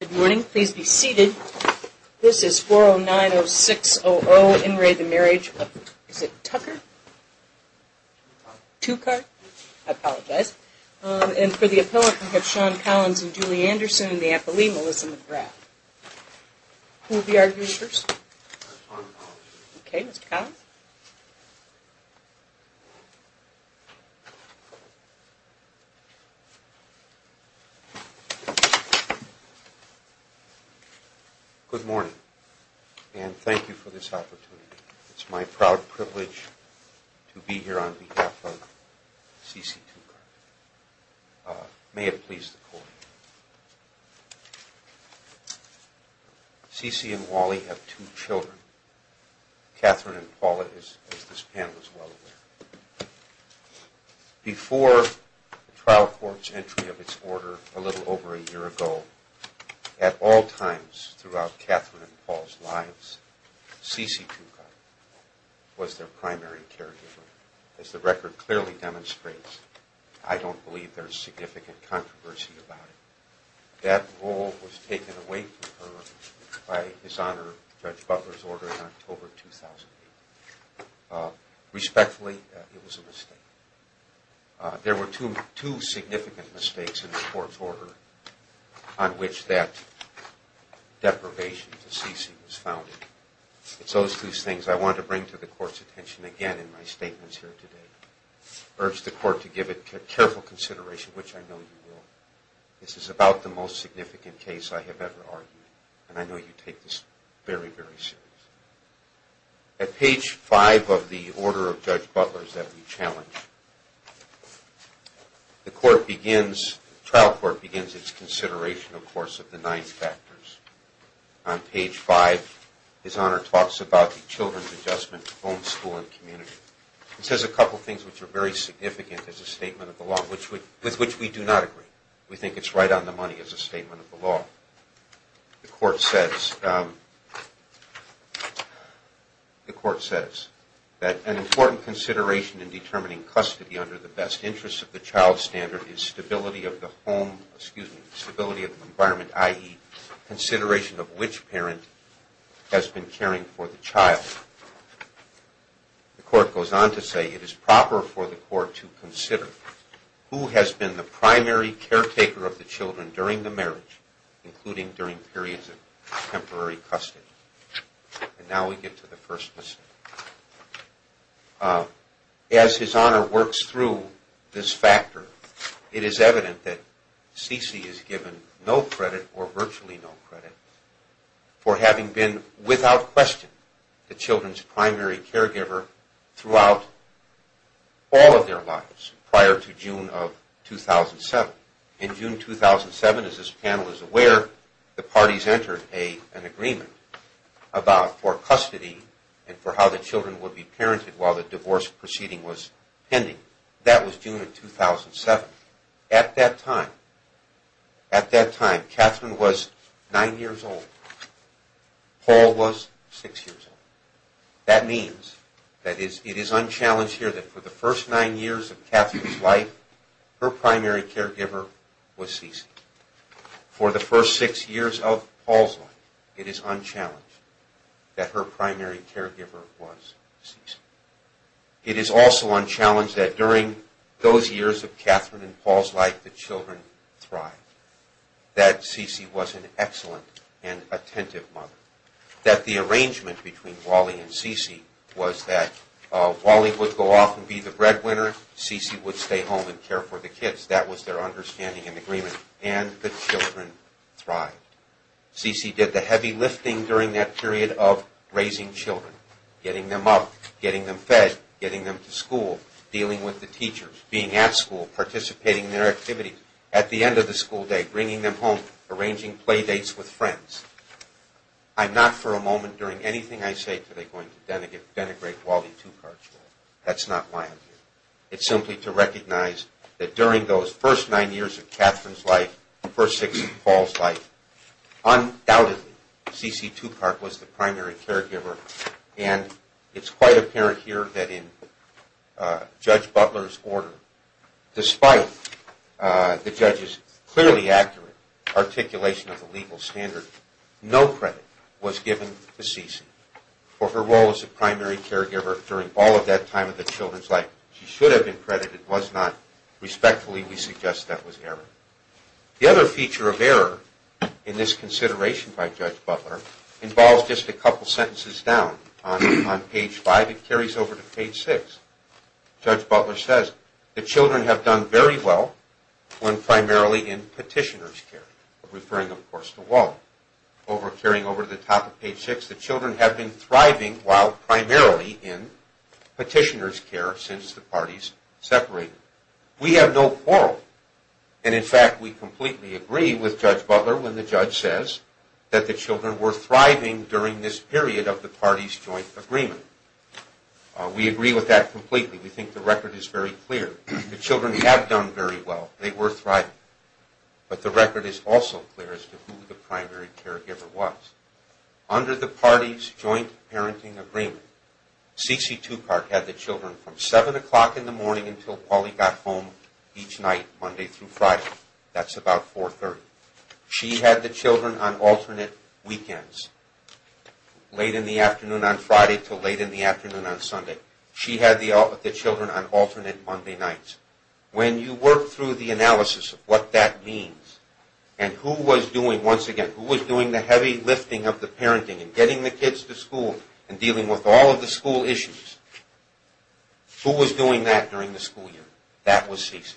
Good morning. Please be seated. This is 4090600, In re the Marriage of, is it Tucker? Tuchardt? I apologize. And for the appellate, we have Sean Collins and Julie Anderson, and the appellee, Melissa McGrath. Who will be our users? Sean Collins. Okay, Mr. Collins. Good morning, and thank you for this opportunity. It's my proud privilege to be here on behalf of C.C. Tuchardt. May it please the Court. C.C. and Wally have two children, Catherine and Paula, as this panel is well aware. Before the trial court's entry of its order a little over a year ago, at all times throughout Catherine and Paula's lives, C.C. Tuchardt was their primary caregiver. As the record clearly demonstrates, I don't believe there's significant controversy about it. That role was taken away from her by dishonor of Judge Butler's order in October 2008. Respectfully, it was a mistake. There were two significant mistakes in the court's order on which that deprivation to C.C. was founded. It's those two things I want to bring to the Court's attention again in my statements here today. I urge the Court to give it careful consideration, which I know you will. This is about the most significant case I have ever argued, and I know you take this very, very seriously. At page five of the order of Judge Butler's that we challenge, the trial court begins its consideration, of course, of the nine factors. On page five, dishonor talks about the children's adjustment to home, school, and community. It says a couple of things which are very significant as a statement of the law, with which we do not agree. We think it's right on the money as a statement of the law. The Court says that an important consideration in determining custody under the best interest of the child standard is stability of the home, excuse me, stability of the environment, i.e., consideration of which parent has been caring for the child. The Court goes on to say it is proper for the Court to consider who has been the primary caretaker of the children during the marriage, including during periods of temporary custody. And now we get to the first mistake. As dishonor works through this factor, it is evident that C.C. is given no credit, or virtually no credit, for having been without question the children's primary caregiver throughout all of their lives prior to June of 2007. In June 2007, as this panel is aware, the parties entered an agreement for custody and for how the children would be parented while the divorce proceeding was pending. That was June of 2007. At that time, at that time, Catherine was nine years old. Paul was six years old. That means that it is unchallenged here that for the first nine years of Catherine's life, her primary caregiver was C.C. For the first six years of Paul's life, it is unchallenged that her primary caregiver was C.C. It is also unchallenged that during those years of Catherine and Paul's life, the children thrived, that C.C. was an excellent and attentive mother, that the arrangement between Wally and C.C. was that Wally would go off and be the breadwinner, C.C. would stay home and care for the kids. That was their understanding and agreement, and the children thrived. C.C. did the heavy lifting during that period of raising children, getting them up, getting them fed, getting them to school, dealing with the teachers, being at school, participating in their activities. At the end of the school day, bringing them home, arranging play dates with friends. I'm not for a moment during anything I say today going to denigrate Wally Tupac. That's not why I'm here. It's simply to recognize that during those first nine years of Catherine's life, the first six of Paul's life, undoubtedly C.C. Tupac was the primary caregiver, and it's quite apparent here that in Judge Butler's order, despite the judge's clearly accurate articulation of the legal standard, no credit was given to C.C. for her role as a primary caregiver during all of that time of the children's life. She should have been credited, was not. Respectfully, we suggest that was error. The other feature of error in this consideration by Judge Butler involves just a couple sentences down on page five. It carries over to page six. Judge Butler says, the children have done very well when primarily in petitioner's care, referring, of course, to Wally. Carrying over to the top of page six, the children have been thriving while primarily in petitioner's care since the parties separated. We have no quarrel. In fact, we completely agree with Judge Butler when the judge says that the children were thriving during this period of the parties' joint agreement. We agree with that completely. We think the record is very clear. The children have done very well. They were thriving. But the record is also clear as to who the primary caregiver was. Under the parties' joint parenting agreement, C.C. Tupac had the children from 7 o'clock in the morning until Wally got home each night, Monday through Friday. That's about 4.30. She had the children on alternate weekends, late in the afternoon on Friday until late in the afternoon on Sunday. She had the children on alternate Monday nights. When you work through the analysis of what that means and who was doing, once again, who was doing the heavy lifting of the parenting and getting the kids to school and dealing with all of the school issues, who was doing that during the school year? That was C.C.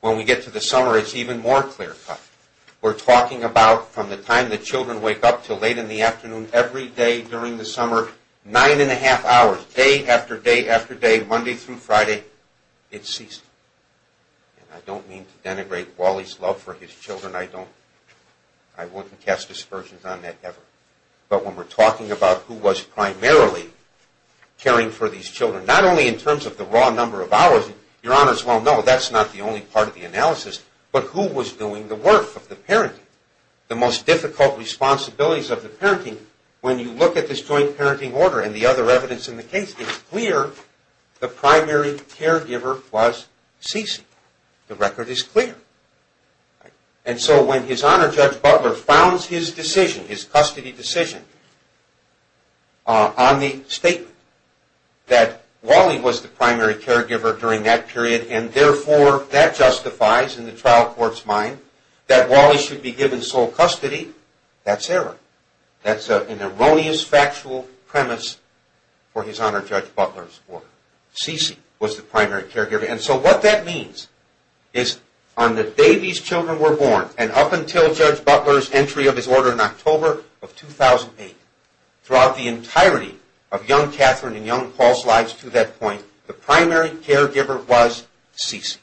When we get to the summer, it's even more clear-cut. We're talking about from the time the children wake up until late in the afternoon every day during the summer, nine-and-a-half hours, day after day after day, Monday through Friday, it ceased. And I don't mean to denigrate Wally's love for his children. I don't. I wouldn't cast aspersions on that ever. But when we're talking about who was primarily caring for these children, not only in terms of the raw number of hours, Your Honors, well, no, that's not the only part of the analysis, but who was doing the work of the parenting. The most difficult responsibilities of the parenting, when you look at this joint parenting order and the other evidence in the case, it's clear the primary caregiver was C.C. The record is clear. And so when His Honor Judge Butler founds his decision, his custody decision, on the statement that Wally was the primary caregiver during that period, and therefore that justifies in the trial court's mind that Wally should be given sole custody, that's error. That's an erroneous factual premise for His Honor Judge Butler's order. C.C. was the primary caregiver. And so what that means is on the day these children were born and up until Judge Butler's entry of his order in October of 2008, throughout the entirety of young Catherine and young Paul's lives to that point, the primary caregiver was C.C.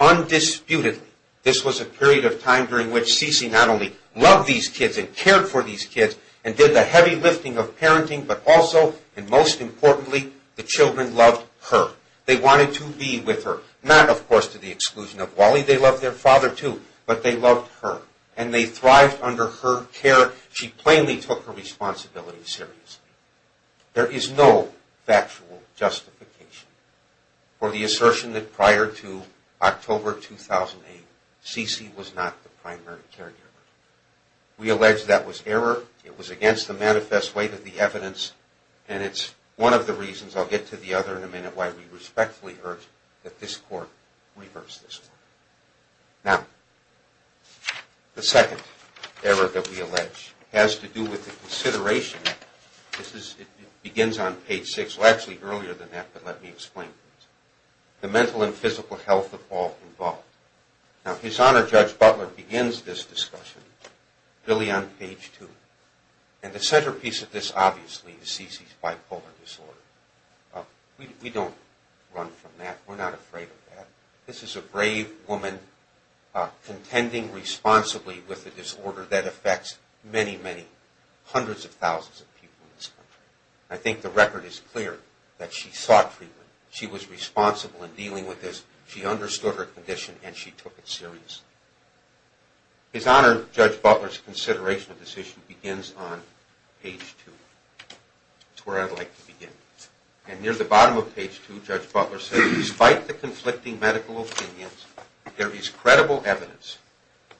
Undisputedly, this was a period of time during which C.C. not only loved these kids and cared for these kids and did the heavy lifting of parenting, but also, and most importantly, the children loved her. They wanted to be with her. Not, of course, to the exclusion of Wally. They loved their father, too. But they loved her. And they thrived under her care. However, she plainly took her responsibility seriously. There is no factual justification for the assertion that prior to October 2008, C.C. was not the primary caregiver. We allege that was error. It was against the manifest weight of the evidence. And it's one of the reasons, I'll get to the other in a minute, why we respectfully urge that this Court reverse this one. Now, the second error that we allege has to do with the consideration. It begins on page six. Well, actually, earlier than that, but let me explain. The mental and physical health of all involved. Now, His Honor Judge Butler begins this discussion really on page two. And the centerpiece of this, obviously, is C.C.'s bipolar disorder. We don't run from that. We're not afraid of that. This is a brave woman contending responsibly with a disorder that affects many, many hundreds of thousands of people in this country. I think the record is clear that she sought treatment. She was responsible in dealing with this. She understood her condition, and she took it seriously. His Honor Judge Butler's consideration of this issue begins on page two. That's where I'd like to begin. And near the bottom of page two, Judge Butler says, Despite the conflicting medical opinions, there is credible evidence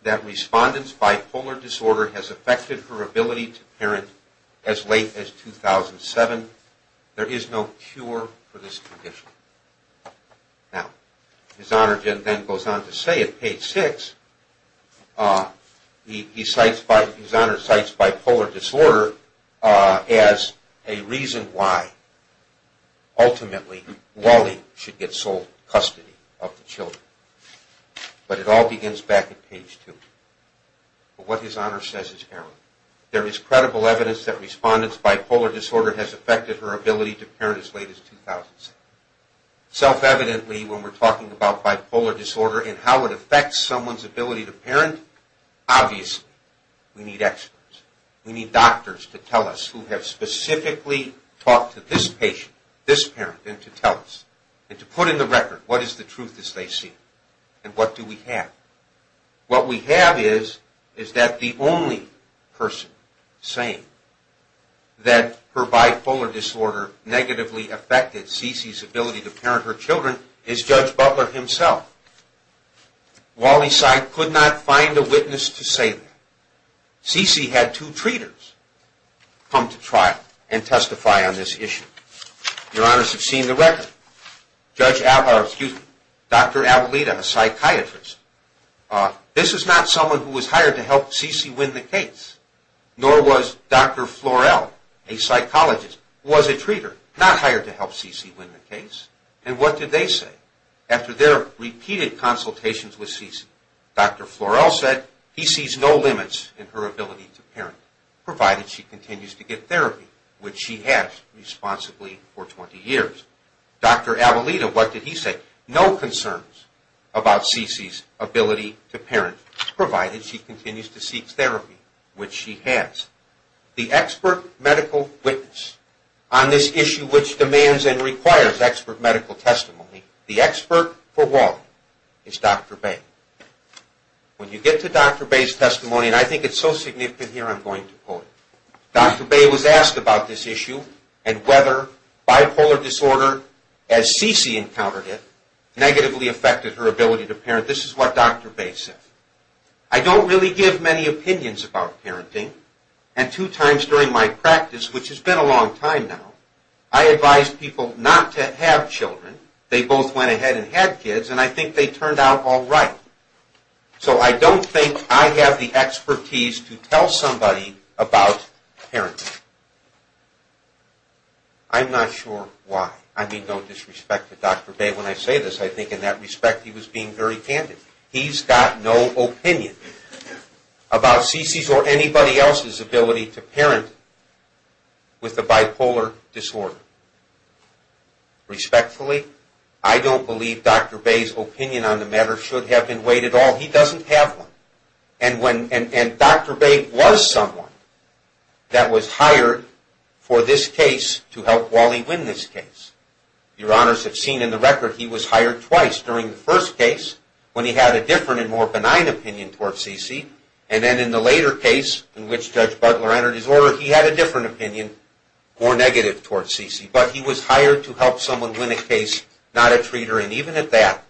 that respondent's bipolar disorder has affected her ability to parent as late as 2007. There is no cure for this condition. Now, His Honor then goes on to say at page six, His Honor cites bipolar disorder as a reason why, ultimately, Wally should get sole custody of the children. But it all begins back at page two. But what His Honor says is error. There is credible evidence that respondent's bipolar disorder has affected her ability to parent as late as 2007. Self-evidently, when we're talking about bipolar disorder and how it affects someone's ability to parent, obviously, we need experts. We need doctors to tell us who have specifically talked to this patient, this parent, and to tell us, and to put in the record what is the truth as they see it, and what do we have. What we have is that the only person saying that her bipolar disorder negatively affected CeCe's ability to parent her children is Judge Butler himself. Wally Cide could not find a witness to say that. CeCe had two treaters come to trial and testify on this issue. Your Honors have seen the record. Dr. Avelita, a psychiatrist, this is not someone who was hired to help CeCe win the case. Nor was Dr. Florell, a psychologist, who was a treater, not hired to help CeCe win the case. And what did they say after their repeated consultations with CeCe? Dr. Florell said he sees no limits in her ability to parent, provided she continues to get therapy, which she has responsibly for 20 years. Dr. Avelita, what did he say? No concerns about CeCe's ability to parent, provided she continues to seek therapy, which she has. The expert medical witness on this issue, which demands and requires expert medical testimony, the expert for Wally, is Dr. Bay. When you get to Dr. Bay's testimony, and I think it's so significant here, I'm going to quote it. Dr. Bay was asked about this issue and whether bipolar disorder, as CeCe encountered it, negatively affected her ability to parent. This is what Dr. Bay said. I don't really give many opinions about parenting. And two times during my practice, which has been a long time now, I advise people not to have children. They both went ahead and had kids, and I think they turned out all right. So I don't think I have the expertise to tell somebody about parenting. I'm not sure why. I mean no disrespect to Dr. Bay when I say this. I think in that respect he was being very candid. He's got no opinion about CeCe's or anybody else's ability to parent with a bipolar disorder. Respectfully, I don't believe Dr. Bay's opinion on the matter should have been weighed at all. He doesn't have one. And Dr. Bay was someone that was hired for this case to help Wally win this case. Your honors have seen in the record, he was hired twice. During the first case, when he had a different and more benign opinion toward CeCe, and then in the later case in which Judge Butler entered his order, he had a different opinion, more negative toward CeCe. But he was hired to help someone win a case, not a treater. And even at that,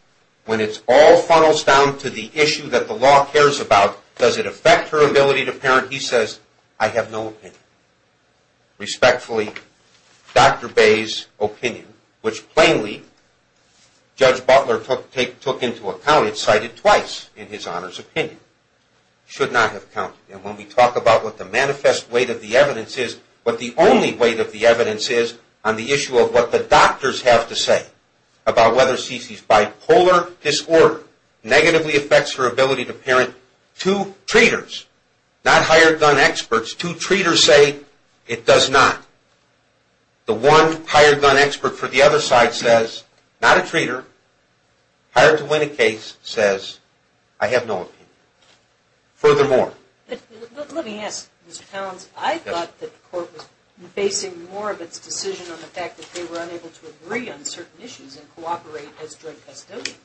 when it all funnels down to the issue that the law cares about, does it affect her ability to parent, he says, I have no opinion. Respectfully, Dr. Bay's opinion, which plainly Judge Butler took into account and cited twice in his honors opinion, should not have counted. And when we talk about what the manifest weight of the evidence is, what the only weight of the evidence is on the issue of what the doctors have to say about whether CeCe's bipolar disorder negatively affects her ability to parent, it's two treaters, not hired gun experts. Two treaters say it does not. The one hired gun expert for the other side says, not a treater. Hired to win a case says, I have no opinion. Furthermore. Let me ask, Mr. Towns, I thought that the court was basing more of its decision on the fact that they were unable to agree on certain issues and cooperate as joint custodians.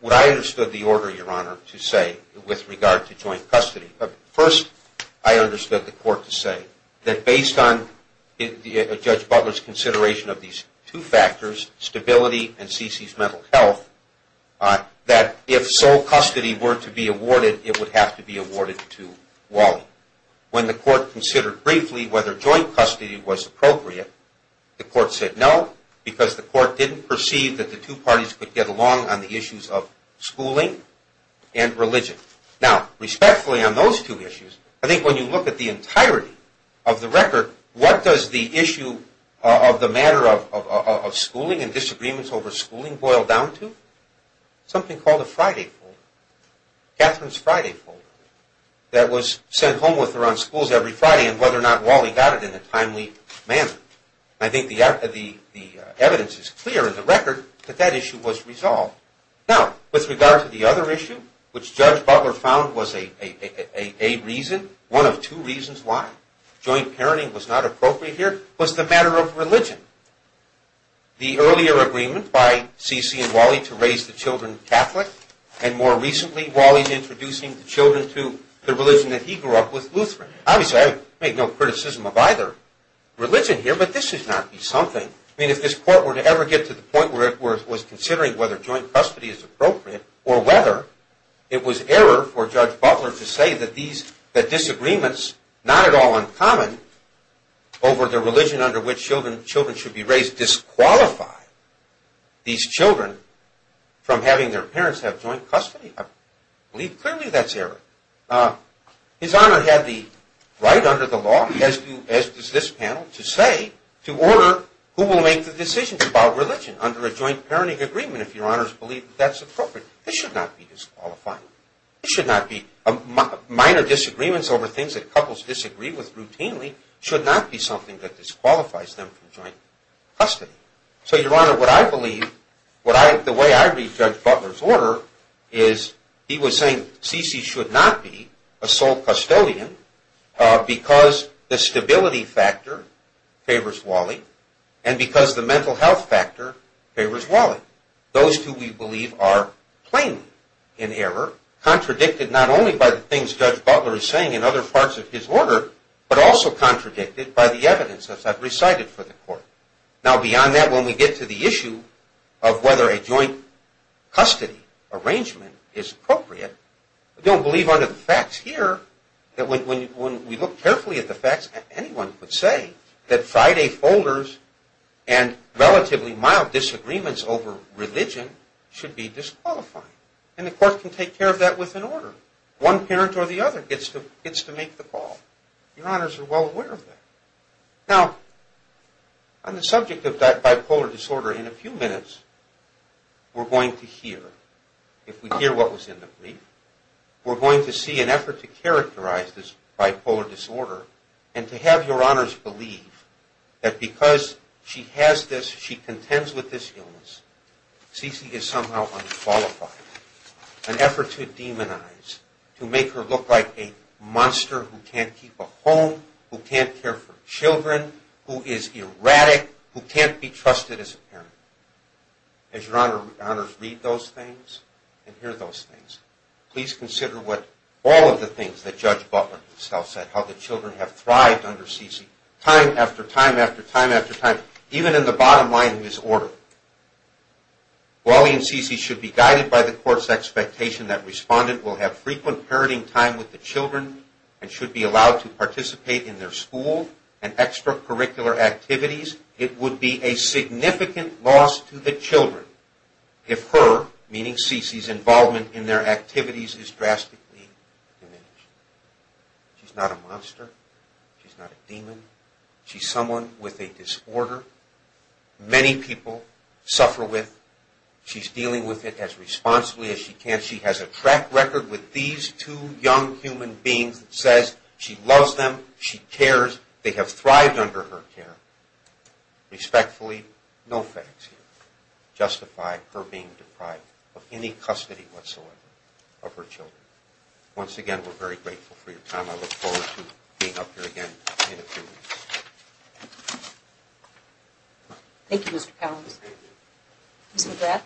What I understood the order, Your Honor, to say with regard to joint custody. First, I understood the court to say that based on Judge Butler's consideration of these two factors, stability and CeCe's mental health, that if sole custody were to be awarded, it would have to be awarded to Wally. When the court considered briefly whether joint custody was appropriate, the court said no, because the court didn't perceive that the two parties could get along on the issues of schooling and religion. Now, respectfully on those two issues, I think when you look at the entirety of the record, what does the issue of the matter of schooling and disagreements over schooling boil down to? Something called a Friday folder. Catherine's Friday folder that was sent home with her on schools every Friday and whether or not Wally got it in a timely manner. I think the evidence is clear in the record that that issue was resolved. Now, with regard to the other issue, which Judge Butler found was a reason, one of two reasons why joint parenting was not appropriate here, was the matter of religion. The earlier agreement by CeCe and Wally to raise the children Catholic, and more recently Wally's introducing the children to the religion that he grew up with, Lutheran. Obviously, I would make no criticism of either religion here, but this should not be something. I mean, if this court were to ever get to the point where it was considering whether joint custody is appropriate or whether it was error for Judge Butler to say that disagreements, not at all uncommon, over the religion under which children should be raised disqualify these children from having their parents have joint custody, I believe clearly that's error. His Honor had the right under the law, as does this panel, to say, to order, who will make the decisions about religion under a joint parenting agreement if Your Honors believe that's appropriate. This should not be disqualifying. Minor disagreements over things that couples disagree with routinely should not be something that disqualifies them from joint custody. So Your Honor, what I believe, the way I read Judge Butler's order is he was saying CeCe should not be a sole custodian because the stability factor favors Wally and because the mental health factor favors Wally. Those two, we believe, are plainly in error, contradicted not only by the things Judge Butler is saying in other parts of his order, but also contradicted by the evidence that's been recited for the court. Now, beyond that, when we get to the issue of whether a joint custody arrangement is appropriate, we don't believe under the facts here that when we look carefully at the facts, anyone could say that Friday folders and relatively mild disagreements over religion should be disqualifying. And the court can take care of that with an order. One parent or the other gets to make the call. Your Honors are well aware of that. Now, on the subject of bipolar disorder, in a few minutes we're going to hear, if we hear what was in the brief, we're going to see an effort to characterize this bipolar disorder and to have Your Honors believe that because she has this, she contends with this illness, CeCe is somehow unqualified. An effort to demonize, to make her look like a monster who can't keep a home, who can't care for children, who is erratic, who can't be trusted as a parent. As Your Honors read those things and hear those things, please consider what all of the things that Judge Butler himself said, how the children have thrived under CeCe, time after time after time after time, even in the bottom line of his order. Wally and CeCe should be guided by the court's expectation that respondent will have frequent parenting time with the children and should be allowed to participate in their school and extracurricular activities. It would be a significant loss to the children if her, meaning CeCe's, involvement in their activities is drastically diminished. She's not a monster. She's not a demon. She's someone with a disorder many people suffer with. She's dealing with it as responsibly as she can. She has a track record with these two young human beings that says she loves them, she cares, they have thrived under her care. Respectfully, no facts here justify her being deprived of any custody whatsoever of her children. Once again, we're very grateful for your time. I look forward to being up here again in a few weeks. Thank you, Mr. Collins. Ms. McGrath.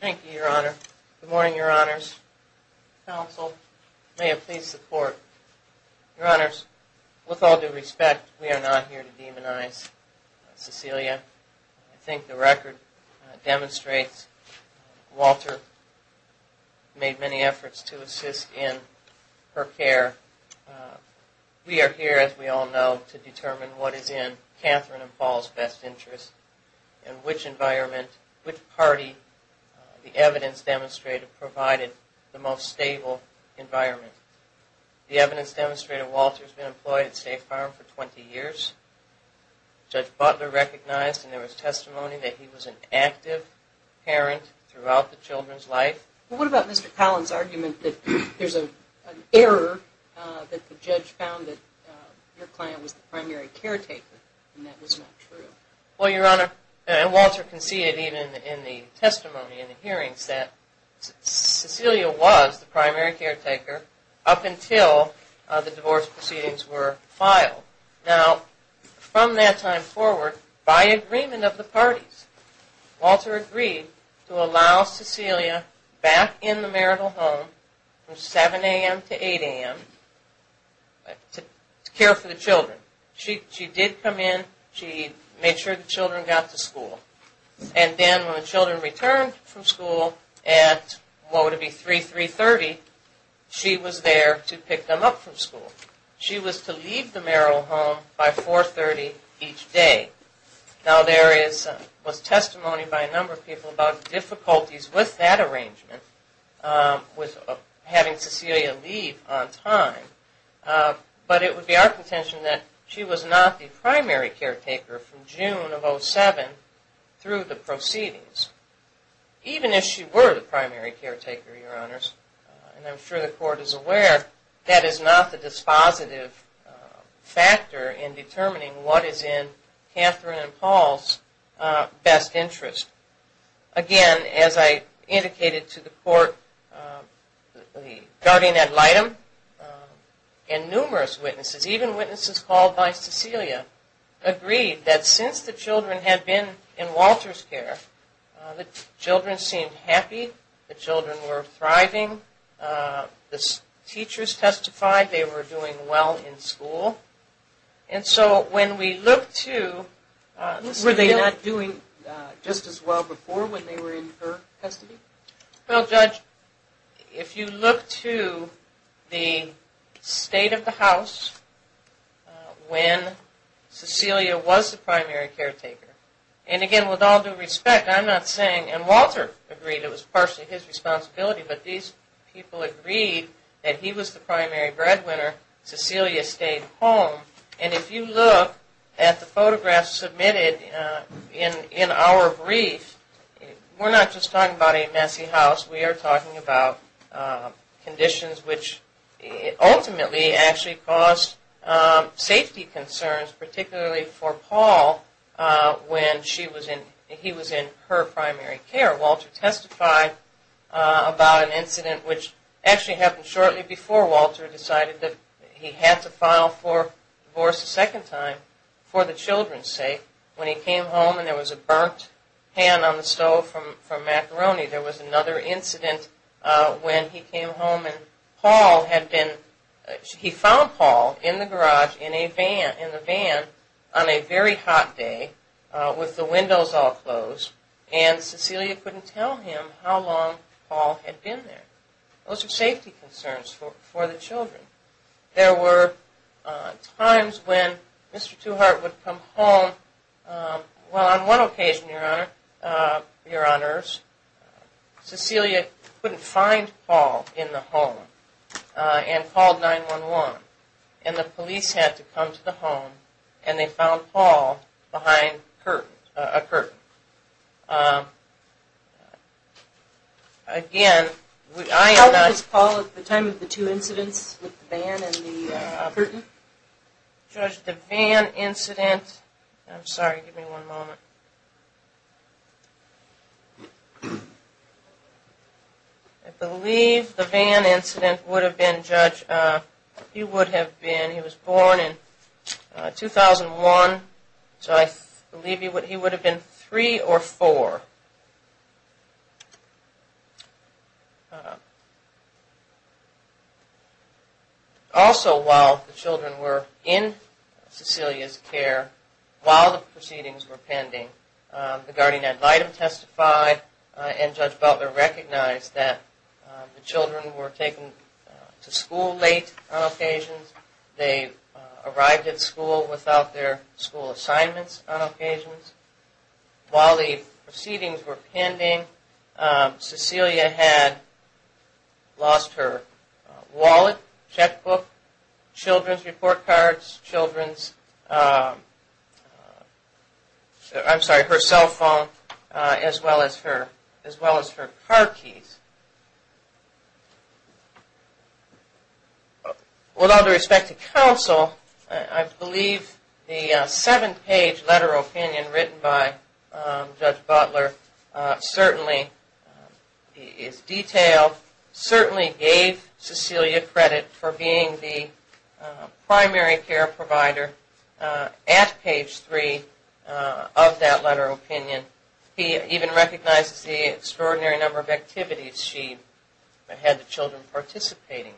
Thank you, Your Honor. Good morning, Your Honors. Counsel, may I please the court. Your Honors, with all due respect, we are not here to demonize CeCelia. I think the record demonstrates Walter made many efforts to assist in her care. We are here, as we all know, to determine what is in Catherine and Paul's best interest and which environment, which party the evidence demonstrated provided the most stable environment. The evidence demonstrated Walter's been employed at State Farm for 20 years. Judge Butler recognized, and there was testimony, that he was an active parent throughout the children's life. What about Mr. Collins' argument that there's an error, that the judge found that your client was the primary caretaker, and that was not true? Well, Your Honor, and Walter can see it even in the testimony in the hearings, that CeCelia was the primary caretaker up until the divorce proceedings were filed. Now, from that time forward, by agreement of the parties, Walter agreed to allow CeCelia back in the marital home from 7 a.m. to 8 a.m. to care for the children. She did come in, she made sure the children got to school, and then when the children returned from school at, what would it be, 3, 3.30, she was there to pick them up from school. She was to leave the marital home by 4.30 each day. Now, there was testimony by a number of people about difficulties with that arrangement, with having CeCelia leave on time, but it would be our contention that she was not the primary caretaker from June of 07 through the proceedings. Even if she were the primary caretaker, Your Honors, and I'm sure the court is aware, that is not the dispositive factor in determining what is in Catherine and Paul's best interest. Again, as I indicated to the court, the guardian ad litem and numerous witnesses, even witnesses called by CeCelia, agreed that since the children had been in Walter's care, the children seemed happy, the children were thriving, the teachers testified they were doing well in school. And so when we look to... Were they not doing just as well before when they were in her custody? Well, Judge, if you look to the state of the house when CeCelia was the primary caretaker, and again, with all due respect, I'm not saying, and Walter agreed it was partially his responsibility, but these people agreed that he was the primary breadwinner, CeCelia stayed home. And if you look at the photographs submitted in our brief, we're not just talking about a messy house, we are talking about conditions which ultimately actually caused safety concerns, particularly for Paul when he was in her primary care. Walter testified about an incident which actually happened shortly before Walter decided that he had to file for divorce a second time for the children's sake, when he came home and there was a burnt pan on the stove from macaroni. There was another incident when he came home and Paul had been... He found Paul in the garage in the van on a very hot day with the windows all closed, and CeCelia couldn't tell him how long Paul had been there. Those are safety concerns for the children. There were times when Mr. Tuhart would come home... Well, on one occasion, your honors, CeCelia couldn't find Paul in the home and called 911, and the police had to come to the home and they found Paul behind a curtain. Again, I am not... How old was Paul at the time of the two incidents with the van and the curtain? Judge, the van incident... I'm sorry, give me one moment. I believe the van incident would have been, Judge, he would have been... He was born in 2001, so I believe he would have been three or four. Also, while the children were in CeCelia's care, while the proceedings were pending, the guardian ad litem testified and Judge Butler recognized that the children were taken to school late on occasions. They arrived at school without their school assignments on occasions. While the proceedings were pending, CeCelia had lost her wallet, checkbook, children's report cards, children's... I'm sorry, her cell phone, as well as her car keys. With all due respect to counsel, I believe the seven-page letter of opinion written by Judge Butler certainly is detailed, certainly gave CeCelia credit for being the primary care provider at page three of that letter of opinion. He even recognizes the extraordinary number of activities she had the children participating in.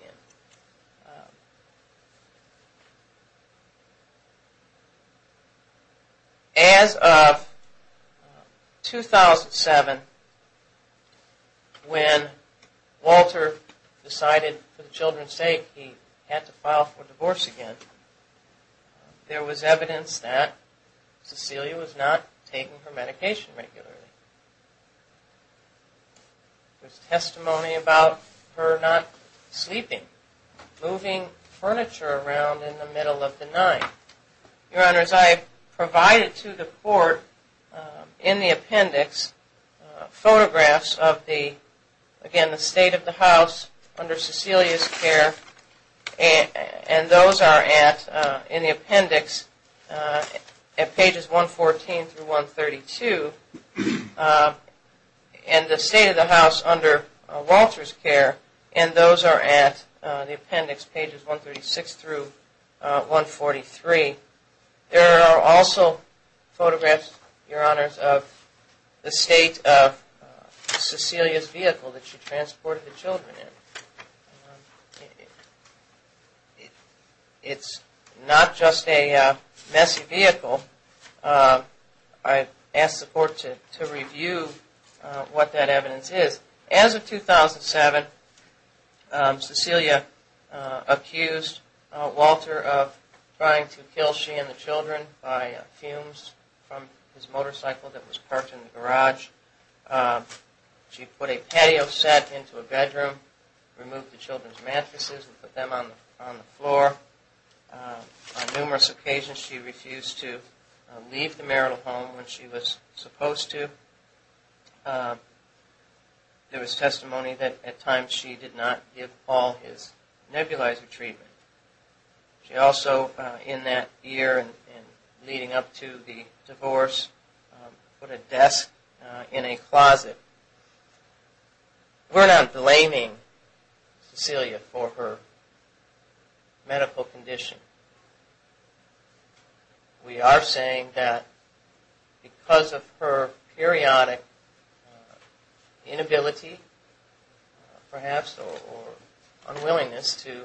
As of 2007, when Walter decided for the children's sake he had to file for divorce again, there was evidence that CeCelia was not taking her medication regularly. There's testimony about her not sleeping, moving furniture around in the middle of the night. Your Honors, I provided to the court in the appendix photographs of the, again, the state of the house under CeCelia's care, and those are in the appendix at pages 114-132, and the state of the house under Walter's care, and those are at the appendix pages 136-143. There are also photographs, Your Honors, of the state of CeCelia's vehicle that she transported the children in. It's not just a messy vehicle. I asked the court to review what that evidence is. As of 2007, CeCelia accused Walter of trying to kill she and the children by fumes from his motorcycle that was parked in the garage. She put a patio set into a bedroom, removed the children's mattresses and put them on the floor. On numerous occasions she refused to leave the marital home when she was supposed to. There was testimony that at times she did not give Paul his nebulizer treatment. She also, in that year and leading up to the divorce, put a desk in a closet. We're not blaming CeCelia for her medical condition. We are saying that because of her periodic inability, perhaps, or unwillingness to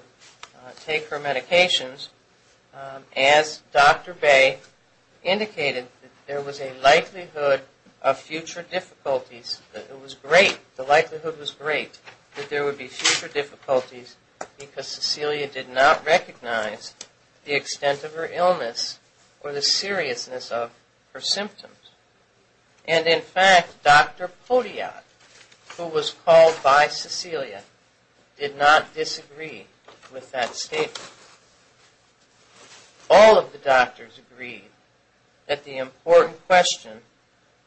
take her medications, as Dr. Bay indicated, there was a likelihood of future difficulties. The likelihood was great that there would be future difficulties because CeCelia did not recognize the extent of her illness or the seriousness of her symptoms. And in fact, Dr. Potiat, who was called by CeCelia, did not disagree with that statement. All of the doctors agreed that the important question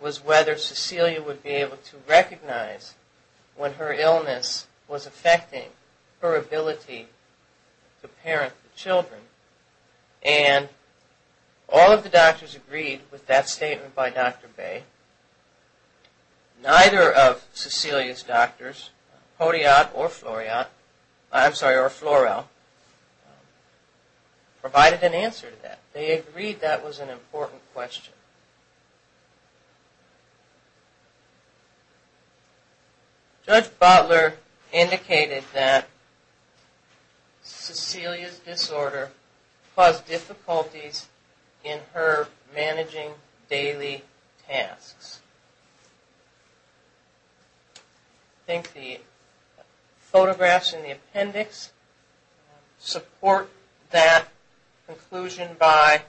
was whether CeCelia would be able to recognize when her illness was affecting her ability to parent the children. And all of the doctors agreed with that statement by Dr. Bay. Neither of CeCelia's doctors, Potiat or Floreal, provided an answer to that. They agreed that was an important question. Judge Butler indicated that CeCelia's disorder caused difficulties in her managing daily tasks. I think the photographs in the appendix support that conclusion by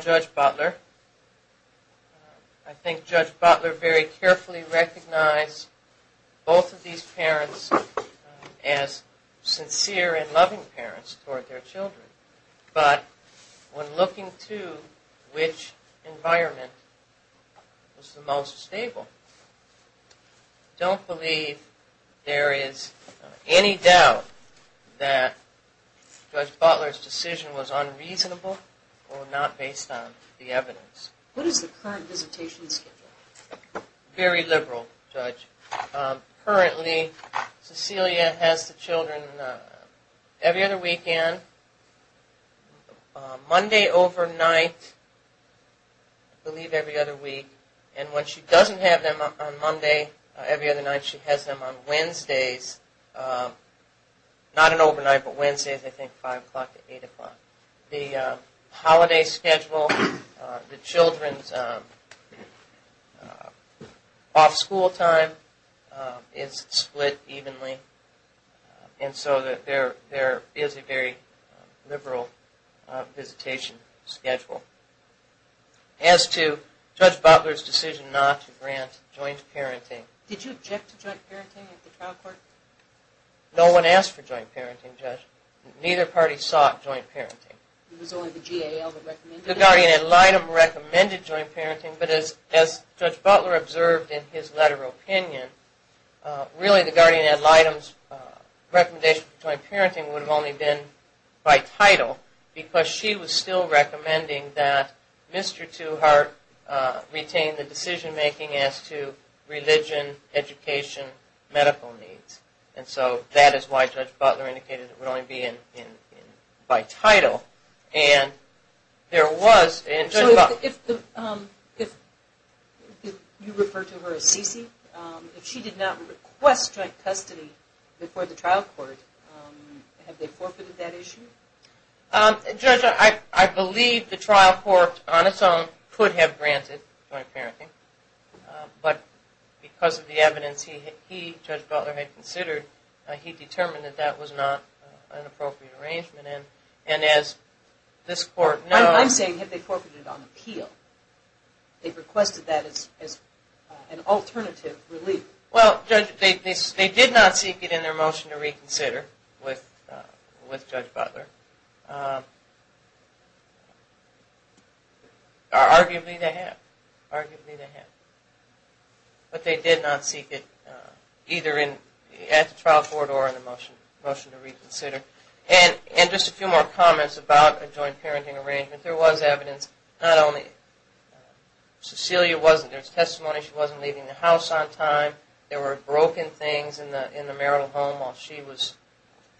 Judge Butler. I think Judge Butler very carefully recognized both of these parents as sincere and loving parents toward their children. But when looking to which environment was the most stable, don't believe there is any doubt that Judge Butler's decision was unreasonable or not based on evidence. What is the current visitation schedule? Very liberal, Judge. Currently, CeCelia has the children every other weekend, Monday overnight, I believe every other week. And when she doesn't have them on Monday every other night, she has them on Wednesdays, not an overnight, but Wednesdays, I think 5 o'clock to 8 o'clock. The holiday schedule, the children's off-school time is split evenly. And so there is a very liberal visitation schedule. As to Judge Butler's decision not to grant joint parenting... Did you object to joint parenting at the trial court? No one asked for joint parenting, Judge. Neither party sought joint parenting. The Guardian-Ad Litem recommended joint parenting, but as Judge Butler observed in his letter of opinion, really the Guardian-Ad Litem's recommendation for joint parenting would have only been by title, because she was still recommending that Mr. Tuhart retain the decision-making as to religion, education, medical needs. And so that is why Judge Butler indicated it would only be by title, and there was... So if you refer to her as CeCe, if she did not request joint custody before the trial court, have they forfeited that issue? Judge, I believe the trial court on its own could have granted joint parenting, but because of the evidence he, Judge Butler, had considered, he determined that that was not an appropriate arrangement, and as this court knows... I'm saying, have they forfeited on appeal? They requested that as an alternative relief. Well, Judge, they did not seek it in their motion to reconsider with Judge Butler. Arguably they have. Arguably they have. But they did not seek it either at the trial court or in the motion to reconsider. And just a few more comments about a joint parenting arrangement. There was evidence, not only... CeCelia wasn't... There's testimony she wasn't leaving the house on time. There were broken things in the marital home while she was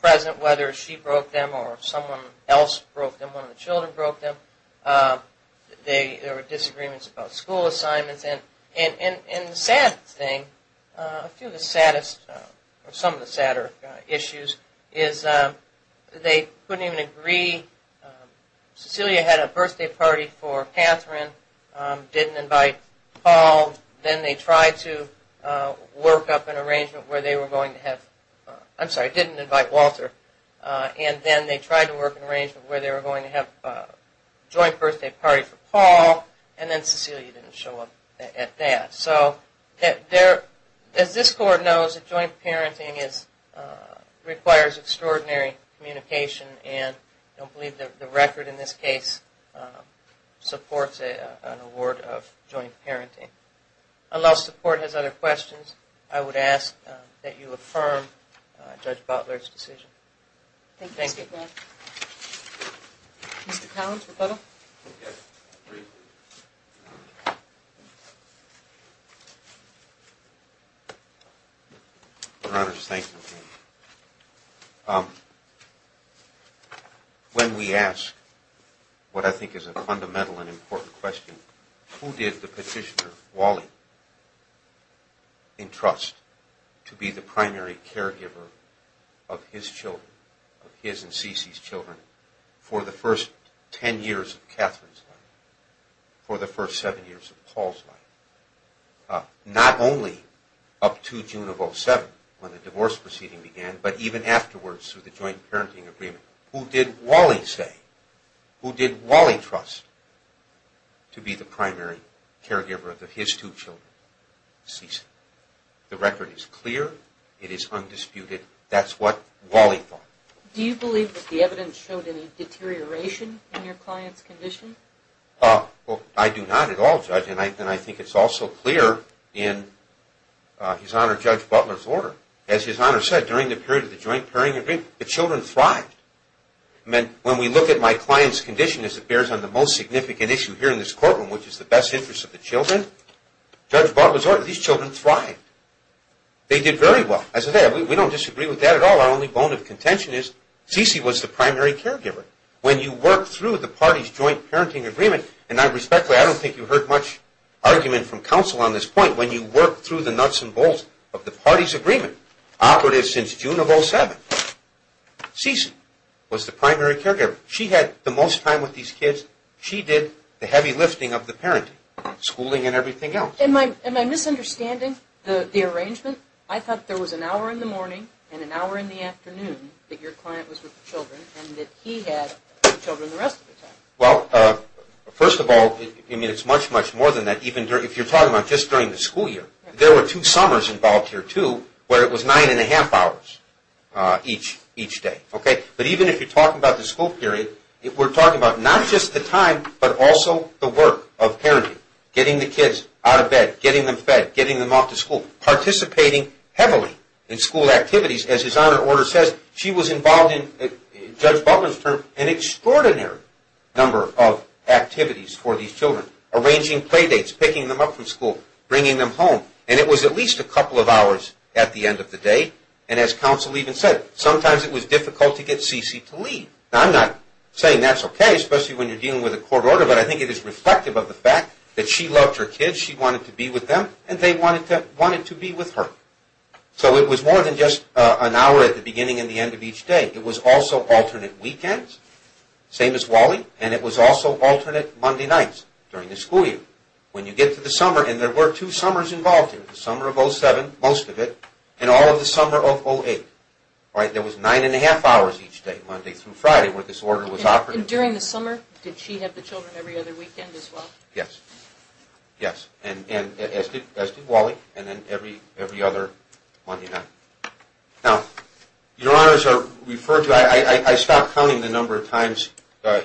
present, whether she broke them or someone else broke them, one of the children broke them. There were disagreements about school assignments. And the saddest thing, a few of the saddest, or some of the sadder issues, is they couldn't even agree... CeCelia had a birthday party for Catherine, didn't invite Paul. Then they tried to work up an arrangement where they were going to have... I'm sorry, didn't invite Walter. And then they tried to work an arrangement where they were going to have a joint birthday party for Paul, and then CeCelia didn't show up at that. So, as this court knows, joint parenting requires extraordinary communication, and I don't believe the record in this case supports an award of joint parenting. Unless the court has other questions, I would ask that you affirm Judge Butler's decision. Thank you. I appreciate that. Your Honor, thank you. When we ask what I think is a fundamental and important question, who did the petitioner, Wally, entrust to be the primary caregiver of his children, of his and CeCelia's children, for the first ten years of Catherine's life, for the first seven years of Paul's life? Not only up to June of 07, when the divorce proceeding began, but even afterwards through the joint parenting agreement. Who did Wally say, who did Wally trust to be the primary caregiver of his two children, CeCelia? The record is clear, it is undisputed, that's what Wally thought. Do you believe that the evidence showed any deterioration in your client's condition? I do not at all, Judge, and I think it's also clear in His Honor Judge Butler's order. As His Honor said, during the period of the joint parenting agreement, the children thrived. When we look at my client's condition as it bears on the most significant issue here in this courtroom, which is the best interest of the children, Judge Butler's order, these children thrived. They did very well. We don't disagree with that at all. Our only bone of contention is, CeCelia was the primary caregiver. I don't think you heard much argument from counsel on this point. When you work through the nuts and bolts of the party's agreement, operative since June of 07, CeCelia was the primary caregiver. She had the most time with these kids. She did the heavy lifting of the parenting, schooling and everything else. Am I misunderstanding the arrangement? I thought there was an hour in the morning and an hour in the afternoon that your client was with the children and that he had the children the rest of the time. First of all, it's much, much more than that. If you're talking about just during the school year, there were two summers involved here, too, where it was nine and a half hours each day. Even if you're talking about the school period, we're talking about not just the time, but also the work of parenting. Getting the kids out of bed, getting them fed, getting them off to school, participating heavily in school activities. As his honor order says, she was involved in, Judge Butler's term, an extraordinary number of activities for these children. Arranging play dates, picking them up from school, bringing them home. It was at least a couple of hours at the end of the day. As counsel even said, sometimes it was difficult to get Cece to leave. I'm not saying that's okay, especially when you're dealing with a court order, but I think it is reflective of the fact that she loved her kids, she wanted to be with them, and they wanted to be with her. It was more than just an hour at the beginning and the end of each day. It was also alternate weekends, same as Wally, and it was also alternate Monday nights during the school year. When you get to the summer, and there were two summers involved, the summer of 07, most of it, and all of the summer of 08. There was nine and a half hours each day, Monday through Friday, where this order was operating. And during the summer, did she have the children every other weekend as well? Yes. As did Wally, and then every other Monday night. Now, your honors are referred to, I stopped counting the number of times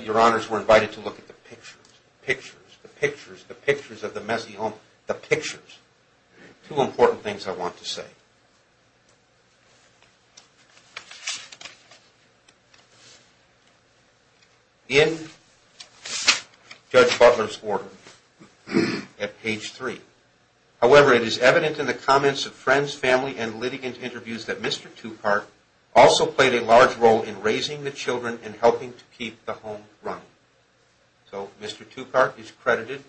your honors were invited to look at the pictures. Pictures, the pictures, the pictures of the messy home. The pictures. Two important things I want to say. In Judge Butler's order, however, it is evident in the comments of friends, family, and litigant interviews that Mr. Tupac also played a large role in raising the children and helping to keep the home running. So Mr. Tupac is credited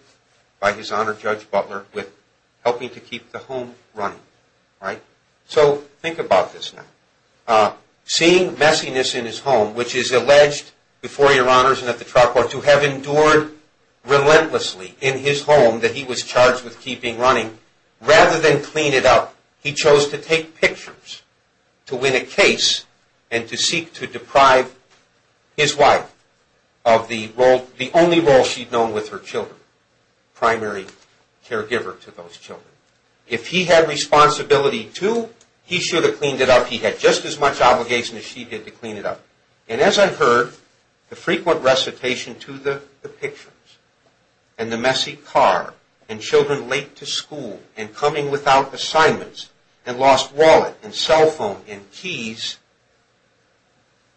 by his honor Judge Butler with helping to keep the home running. So think about this now. Seeing messiness in his home, which is alleged before your honors and at the trial court, but to have endured relentlessly in his home that he was charged with keeping running, rather than clean it up, he chose to take pictures to win a case and to seek to deprive his wife of the only role she'd known with her children, primary caregiver to those children. If he had responsibility too, he should have cleaned it up. He had just as much obligation as she did to clean it up. And as I heard the frequent recitation to the pictures, and the messy car, and children late to school, and coming without assignments, and lost wallet, and cell phone, and keys,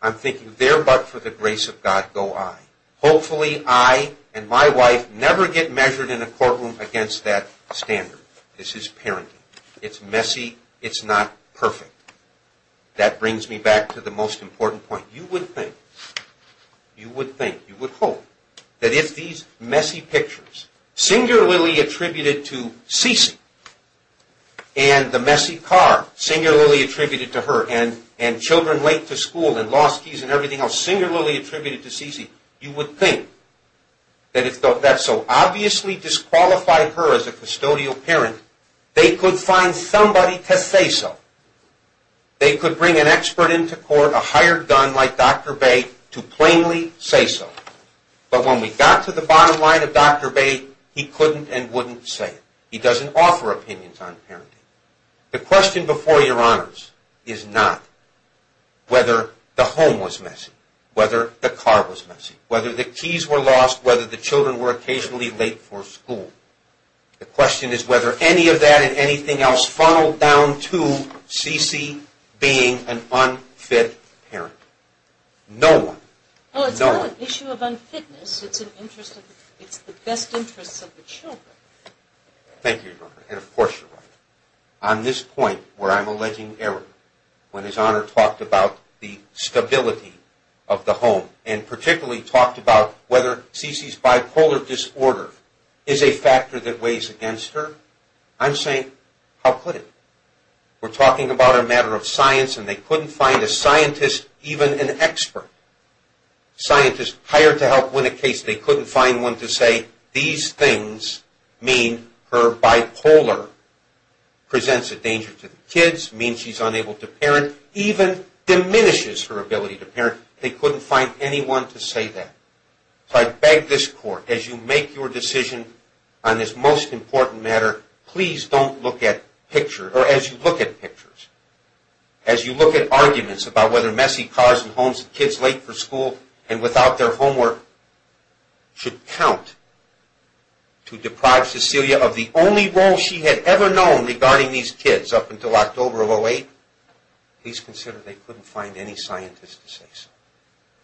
I'm thinking there but for the grace of God go I. Hopefully I and my wife never get measured in a courtroom against that standard. This is parenting. It's messy. It's not perfect. That brings me back to the most important point. You would think, you would hope, that if these messy pictures singularly attributed to CeCe, and the messy car singularly attributed to her, and children late to school, and lost keys, and everything else singularly attributed to CeCe, you would think that if that so obviously disqualified her as a custodial parent, they could find somebody to say so. They could bring an expert into court, a hired gun like Dr. Bay, to plainly say so. But when we got to the bottom line of Dr. Bay, he couldn't and wouldn't say it. He doesn't offer opinions on parenting. The question before your honors is not whether the home was messy, whether the car was messy, whether the keys were lost, whether the children were occasionally late for school. The question is whether any of that and anything else funneled down to CeCe being an unfit parent. No one. No one. It's not an issue of unfitness. It's the best interests of the children. Thank you, Your Honor, and of course you're right. On this point where I'm alleging error, when His Honor talked about the stability of the home, and particularly talked about whether CeCe's bipolar disorder is a factor that weighs against her, I'm saying, how could it? We're talking about a matter of science, and they couldn't find a scientist, even an expert, a scientist hired to help win a case. They couldn't find one to say these things mean her bipolar presents a danger to the kids, means she's unable to parent, even diminishes her ability to parent. They couldn't find anyone to say that. So I beg this on this most important matter, please don't look at pictures, or as you look at pictures, as you look at arguments about whether messy cars and homes and kids late for school and without their homework should count to deprive CeCe of the only role she had ever known regarding these kids up until October of 08, please consider they couldn't find any scientist to say so.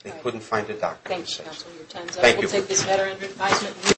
They couldn't find a doctor to say so. Thank you.